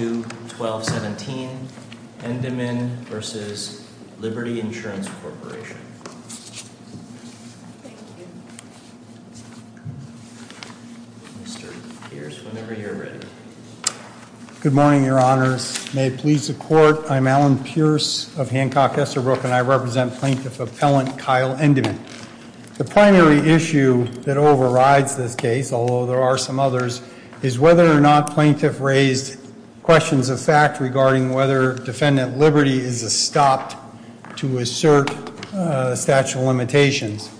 Good morning, your honors. May it please the court, I'm Alan Pierce of Hancock Estherbrook and I represent plaintiff appellant Kyle Endemann. The primary issue that overrides this case, although there are some others, is whether or not questions of fact regarding whether Defendant Liberty is a stopped to assert statute of limitations.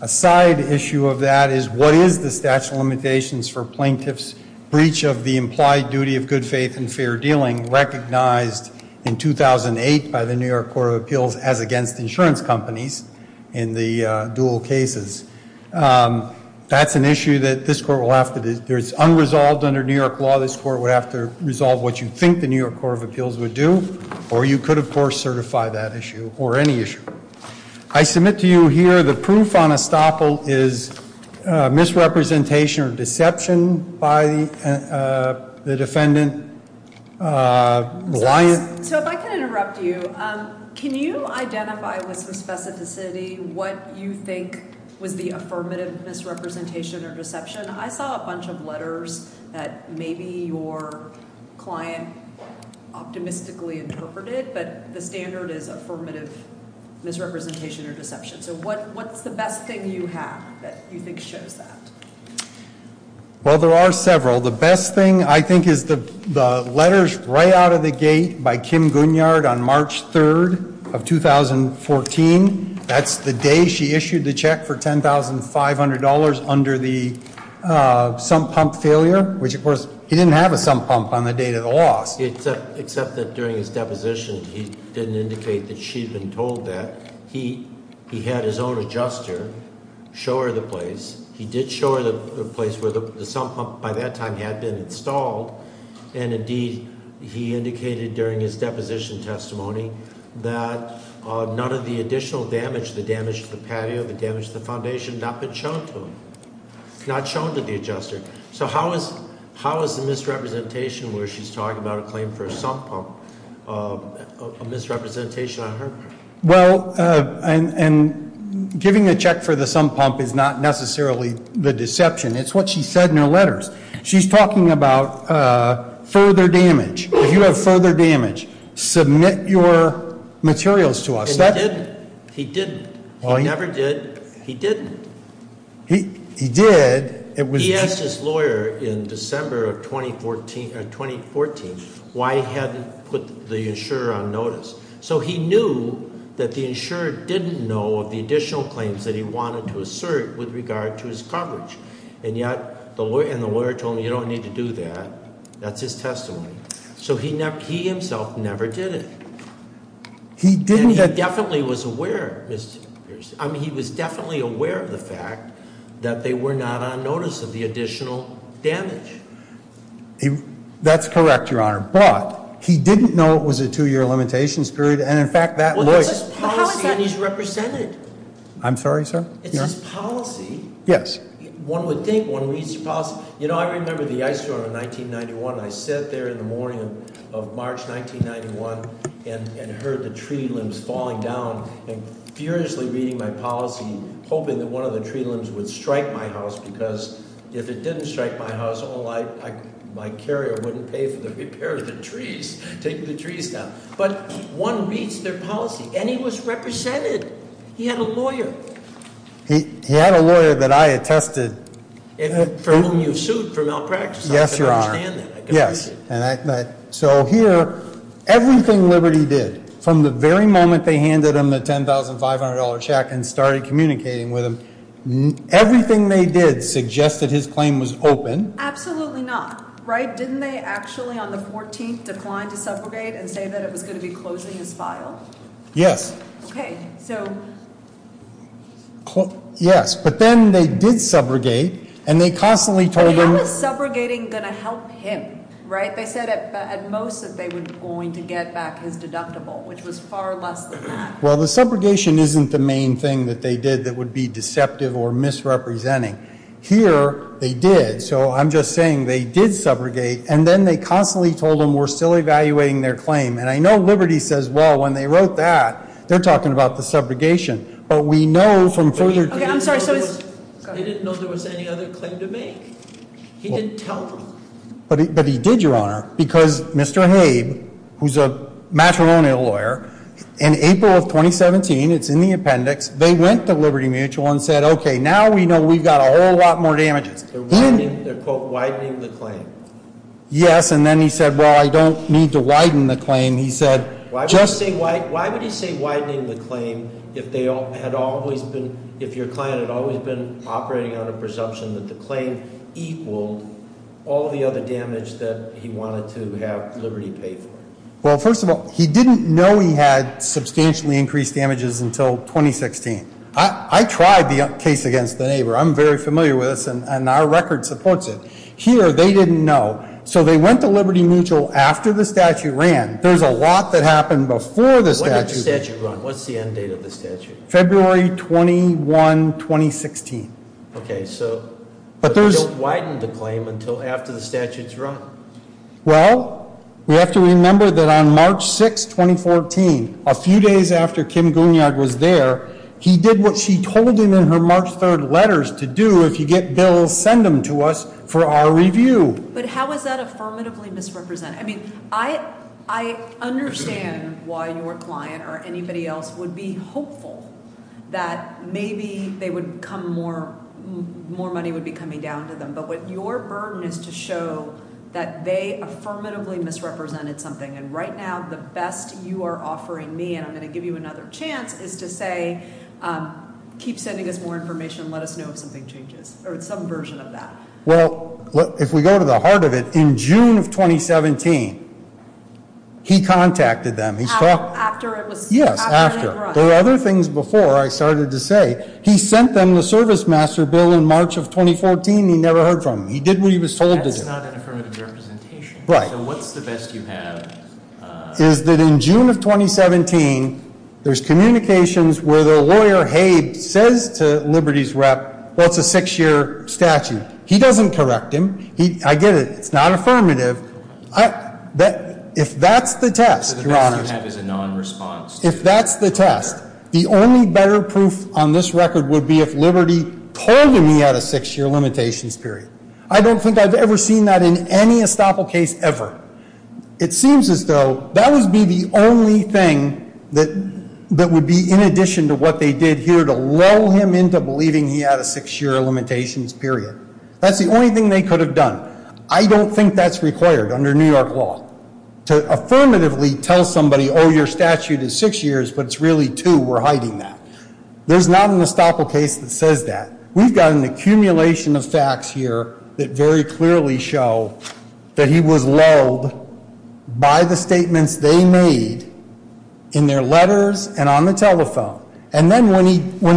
A side issue of that is what is the statute of limitations for plaintiff's breach of the implied duty of good faith and fair dealing recognized in 2008 by the New York Court of Appeals as against insurance companies in the dual cases. That's an issue that this court will have to do. There's unresolved under New York law this court would have to resolve what you think the New York Court of Appeals would do or you could, of course, certify that issue or any issue. I submit to you here the proof on estoppel is misrepresentation or deception by the defendant. So if I can interrupt you, can you identify with some specificity what you think was the affirmative misrepresentation or deception? I saw a bunch of letters that maybe your client optimistically interpreted, but the standard is affirmative misrepresentation or deception. So what what's the best thing you have that you think shows that? Well, there are several. The best thing I think is the letters right out of the gate by Kim Gunyard on March 3rd of 2014. That's the day she issued the check for $10,500 under the sump pump failure, which, of course, he didn't have a sump pump on the date of the loss. Except that during his deposition, he didn't indicate that she'd been told that. He had his own adjuster show her the place. He did show her the place where the sump pump by that time had been installed. And indeed, he indicated during his deposition testimony that none of the additional damage, the damage to the patio, the damage to the foundation, not been shown to him, not shown to the adjuster. So how is the misrepresentation where she's talking about a claim for a sump pump, a misrepresentation on her? Well, and giving a check for the sump pump is not necessarily the deception. It's what she said in her letters. She's talking about further damage. If you have further damage, submit your materials to us. And he didn't. He didn't. He never did. He didn't. He did. He asked his lawyer in December of 2014 why he hadn't put the insurer on notice. So he knew that the insurer didn't know of the additional claims that he wanted to assert with regard to his coverage. And yet, the lawyer told him, you don't need to do that. That's his testimony. So he himself never did it. He definitely was aware, Mr. Pierce. I mean, he was definitely aware of the fact that they were not on notice of the additional damage. That's correct, your honor. But he didn't know it was a two year limitation period, and in fact, that was- Well, that's his policy, and he's represented. I'm sorry, sir? It's his policy. Yes. One would think, one reads your policy. You know, I remember the ice storm of 1991. I sat there in the morning of March 1991 and heard the tree limbs falling down and I was seriously reading my policy hoping that one of the tree limbs would strike my house. Because if it didn't strike my house, my carrier wouldn't pay for the repair of the trees, taking the trees down. But one reads their policy, and he was represented. He had a lawyer. He had a lawyer that I attested. And for whom you sued for malpractice. Yes, your honor. Yes, and so here, everything Liberty did, from the very moment they handed him the $10,500 check and started communicating with him, everything they did suggested his claim was open. Absolutely not, right? Didn't they actually, on the 14th, decline to subrogate and say that it was going to be closing his file? Yes. Okay, so- Yes, but then they did subrogate, and they constantly told him- But how is subrogating going to help him, right? They said at most that they were going to get back his deductible, which was far less than that. Well, the subrogation isn't the main thing that they did that would be deceptive or misrepresenting. Here, they did, so I'm just saying they did subrogate, and then they constantly told him we're still evaluating their claim. And I know Liberty says, well, when they wrote that, they're talking about the subrogation. But we know from further- Okay, I'm sorry, so it's- They didn't know there was any other claim to make. He didn't tell them. But he did, Your Honor, because Mr. Habe, who's a matrimonial lawyer, in April of 2017, it's in the appendix, they went to Liberty Mutual and said, okay, now we know we've got a whole lot more damages. Then- They're, quote, widening the claim. Yes, and then he said, well, I don't need to widen the claim. He said- Why would he say widening the claim if they had always been, if your client had always been operating on a presumption that the claim equaled all the other damage that he wanted to have Liberty pay for? Well, first of all, he didn't know he had substantially increased damages until 2016. I tried the case against the neighbor. I'm very familiar with this, and our record supports it. Here, they didn't know. So they went to Liberty Mutual after the statute ran. There's a lot that happened before the statute- When did the statute run? What's the end date of the statute? February 21, 2016. Okay, so they don't widen the claim until after the statute's run. Well, we have to remember that on March 6, 2014, a few days after Kim Goonyard was there, he did what she told him in her March 3rd letters to do if you get bills, send them to us for our review. But how is that affirmatively misrepresented? I mean, I understand why your client or anybody else would be hopeful that maybe more money would be coming down to them. But what your burden is to show that they affirmatively misrepresented something. And right now, the best you are offering me, and I'm going to give you another chance, is to say keep sending us more information, let us know if something changes or some version of that. Well, if we go to the heart of it, in June of 2017, he contacted them. He's talked- After it was- Yes, after. There were other things before I started to say. He sent them the service master bill in March of 2014, and he never heard from them. He did what he was told to do. That's not an affirmative representation. Right. So what's the best you have? Is that in June of 2017, there's communications where the lawyer Habe says to Liberty's rep, well, it's a six year statute. He doesn't correct him. I get it. It's not affirmative. If that's the test, your honor- So the best you have is a non-response to- If that's the test, the only better proof on this record would be if Liberty told him he had a six year limitations period. I don't think I've ever seen that in any estoppel case ever. It seems as though that would be the only thing that would be in addition to what they did here to lull him into believing he had a six year limitations period. That's the only thing they could have done. I don't think that's required under New York law. To affirmatively tell somebody, your statute is six years, but it's really two, we're hiding that. There's not an estoppel case that says that. We've got an accumulation of facts here that very clearly show that he was lulled by the statements they made in their letters and on the telephone. And then when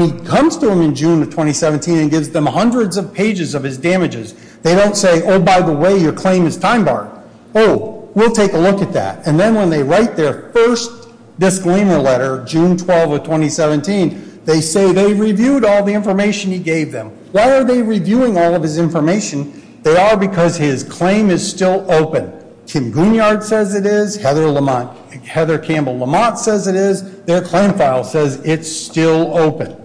he comes to them in June of 2017 and gives them hundreds of pages of his damages, they don't say, by the way, your claim is time barred, we'll take a look at that. And then when they write their first disclaimer letter, June 12 of 2017, they say they reviewed all the information he gave them. Why are they reviewing all of his information? They are because his claim is still open. Kim Goonyard says it is, Heather Campbell Lamont says it is. Their claim file says it's still open.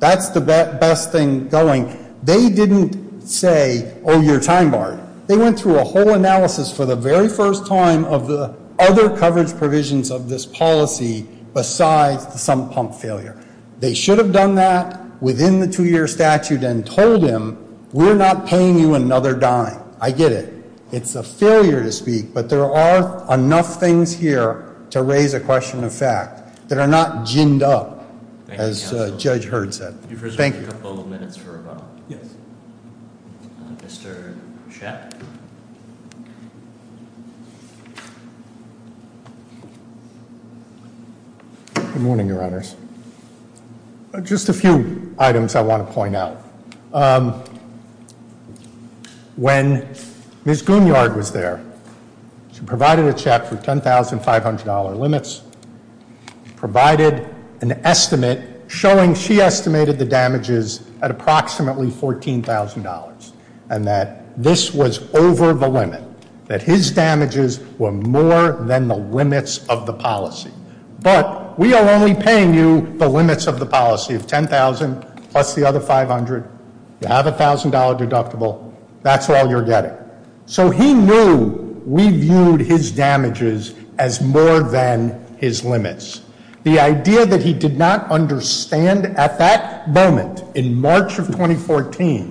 That's the best thing going. They didn't say, your time barred. They went through a whole analysis for the very first time of the other coverage provisions of this policy besides the sump pump failure. They should have done that within the two year statute and told him, we're not paying you another dime. I get it. It's a failure to speak, but there are enough things here to raise a question of fact that are not ginned up, as Judge Heard said. Thank you. A couple of minutes for rebuttal. Yes. Mr. Sheck. Good morning, your honors. Just a few items I want to point out. When Ms. Goonyard was there, she provided a check for $10,500 limits, provided an estimate showing she estimated the damages at approximately $14,000. And that this was over the limit, that his damages were more than the limits of the policy. But we are only paying you the limits of the policy of $10,000 plus the other $500. You have a $1,000 deductible. That's all you're getting. So he knew we viewed his damages as more than his limits. The idea that he did not understand at that moment in March of 2014,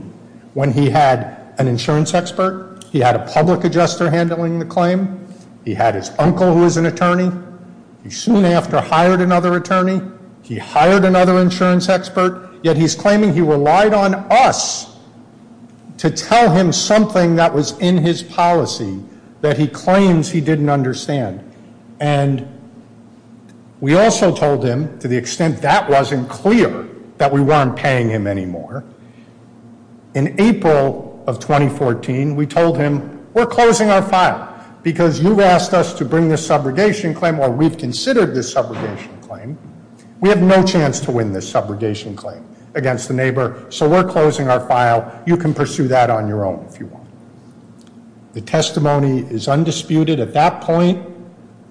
when he had an insurance expert, he had a public adjuster handling the claim, he had his uncle who was an attorney, he soon after hired another attorney, he hired another insurance expert, yet he's claiming he relied on us to tell him something that was in his policy that he claims he didn't understand. And we also told him, to the extent that wasn't clear, that we weren't paying him anymore. In April of 2014, we told him, we're closing our file because you've asked us to bring this subrogation claim. Well, we've considered this subrogation claim. We have no chance to win this subrogation claim against the neighbor, so we're closing our file. You can pursue that on your own if you want. The testimony is undisputed at that point.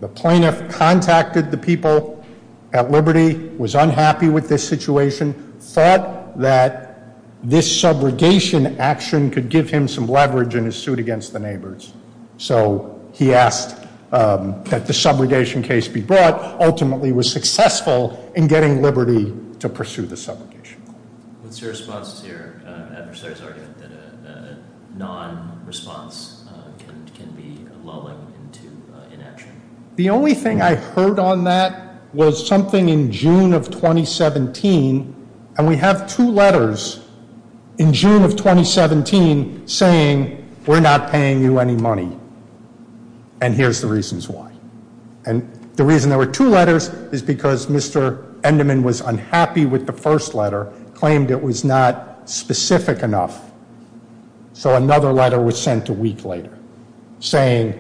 The plaintiff contacted the people at Liberty, was unhappy with this situation, thought that this subrogation action could give him some leverage in his suit against the neighbors. So he asked that the subrogation case be brought, ultimately was successful in getting Liberty to pursue the subrogation. What's your response to your adversary's argument that a non-response can be lulling into inaction? The only thing I heard on that was something in June of 2017, and we have two letters in June of 2017 saying, we're not paying you any money. And here's the reasons why. And the reason there were two letters is because Mr. Enderman was unhappy with the first letter, claimed it was not specific enough. So another letter was sent a week later saying,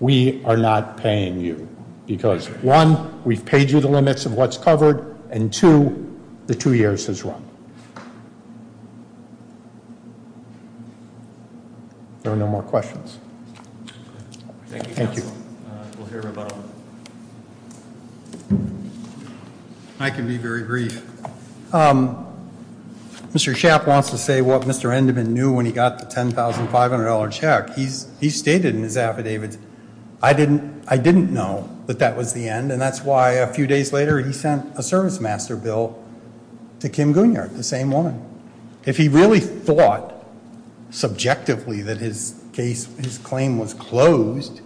we are not paying you. Because one, we've paid you the limits of what's covered, and two, the two years has run. There are no more questions. Thank you. Thank you. I can be very brief. Mr. Schaff wants to say what Mr. Enderman knew when he got the $10,500 check. He stated in his affidavit, I didn't know that that was the end. And that's why a few days later he sent a service master bill to Kim Gunyard, the same woman. If he really thought subjectively that his claim was closed,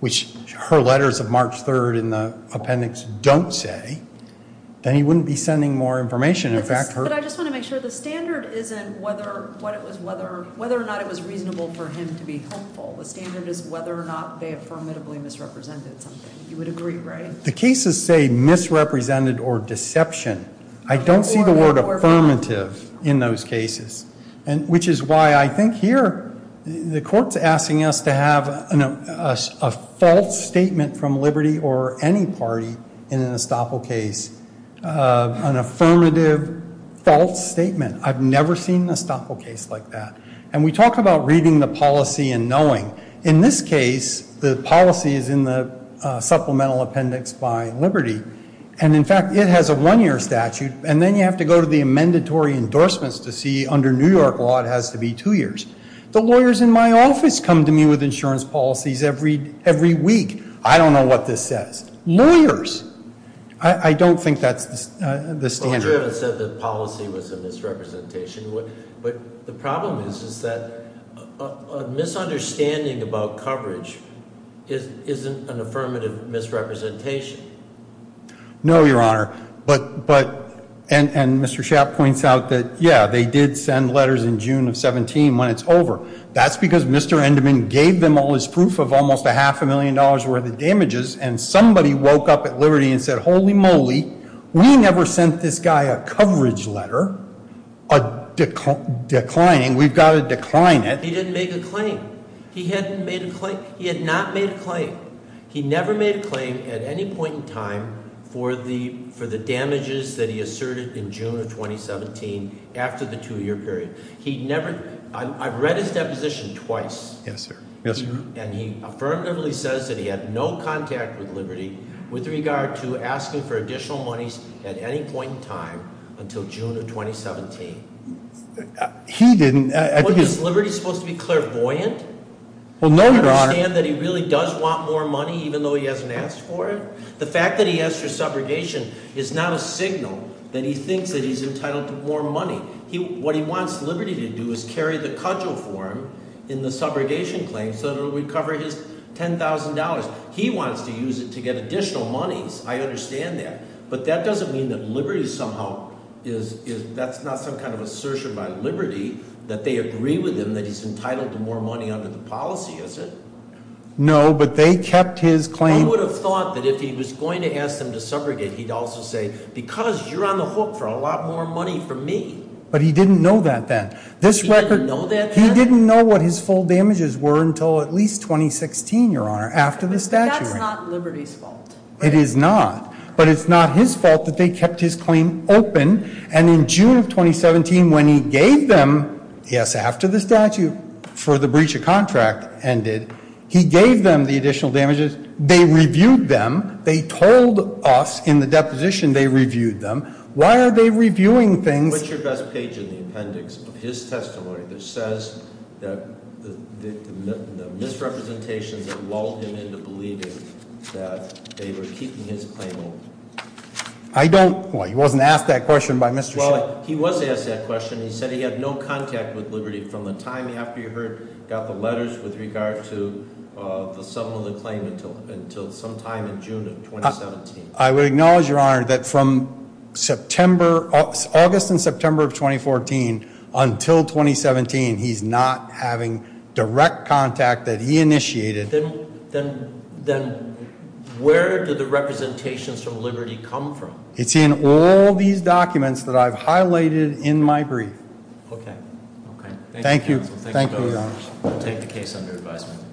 which her letters of March 3rd in the appendix don't say, then he wouldn't be sending more information. In fact, her- But I just want to make sure, the standard isn't whether or not it was reasonable for him to be hopeful. The standard is whether or not they affirmatively misrepresented something. You would agree, right? The cases say misrepresented or deception. I don't see the word affirmative in those cases. And which is why I think here, the court's asking us to have a false statement from Liberty or any party in an estoppel case, an affirmative false statement. I've never seen an estoppel case like that. And we talk about reading the policy and knowing. In this case, the policy is in the supplemental appendix by Liberty. And in fact, it has a one year statute. And then you have to go to the amendatory endorsements to see, under New York law, it has to be two years. The lawyers in my office come to me with insurance policies every week. I don't know what this says. Lawyers. I don't think that's the standard. You haven't said the policy was a misrepresentation. But the problem is, is that a misunderstanding about coverage isn't an affirmative misrepresentation. No, your honor. But, and Mr. Shapp points out that, yeah, they did send letters in June of 17 when it's over. That's because Mr. Enderman gave them all his proof of almost a half a million dollars worth of damages. And somebody woke up at Liberty and said, holy moly, we never sent this guy a coverage letter. A declining, we've got to decline it. He didn't make a claim. He hadn't made a claim, he had not made a claim. He never made a claim at any point in time for the damages that he asserted in June of 2017 after the two year period. He never, I've read his deposition twice. Yes, sir. Yes, sir. And he affirmatively says that he had no contact with Liberty with regard to asking for additional monies at any point in time until June of 2017. He didn't, I think it's- Well, is Liberty supposed to be clairvoyant? Well, no, your honor. To understand that he really does want more money even though he hasn't asked for it? The fact that he asked for subrogation is not a signal that he thinks that he's entitled to more money. What he wants Liberty to do is carry the cudgel for him in the subrogation claim so that it will recover his $10,000. He wants to use it to get additional monies, I understand that. But that doesn't mean that Liberty somehow, that's not some kind of assertion by Liberty that they agree with him that he's entitled to more money under the policy, is it? No, but they kept his claim- I would have thought that if he was going to ask them to subrogate, he'd also say, because you're on the hook for a lot more money from me. But he didn't know that then. He didn't know that then? He didn't know what his full damages were until at least 2016, your honor, after the statute. That's not Liberty's fault. It is not. But it's not his fault that they kept his claim open. And in June of 2017, when he gave them, yes, after the statute for the breach of contract ended, he gave them the additional damages, they reviewed them, they told us in the deposition they reviewed them. Why are they reviewing things- What's your best page in the appendix of his testimony that says that the misrepresentations that lulled him into believing that they were keeping his claim open? I don't, well he wasn't asked that question by Mr. Schiff. He was asked that question, he said he had no contact with Liberty from the time after he heard, got the letters with regard to the sum of the claim until sometime in June of 2017. I would acknowledge, your honor, that from August and September of 2014 until 2017, he's not having direct contact that he initiated. Then where did the representations from Liberty come from? It's in all these documents that I've highlighted in my brief. Okay, okay. Thank you, thank you, your honor. We'll take the case under advisement.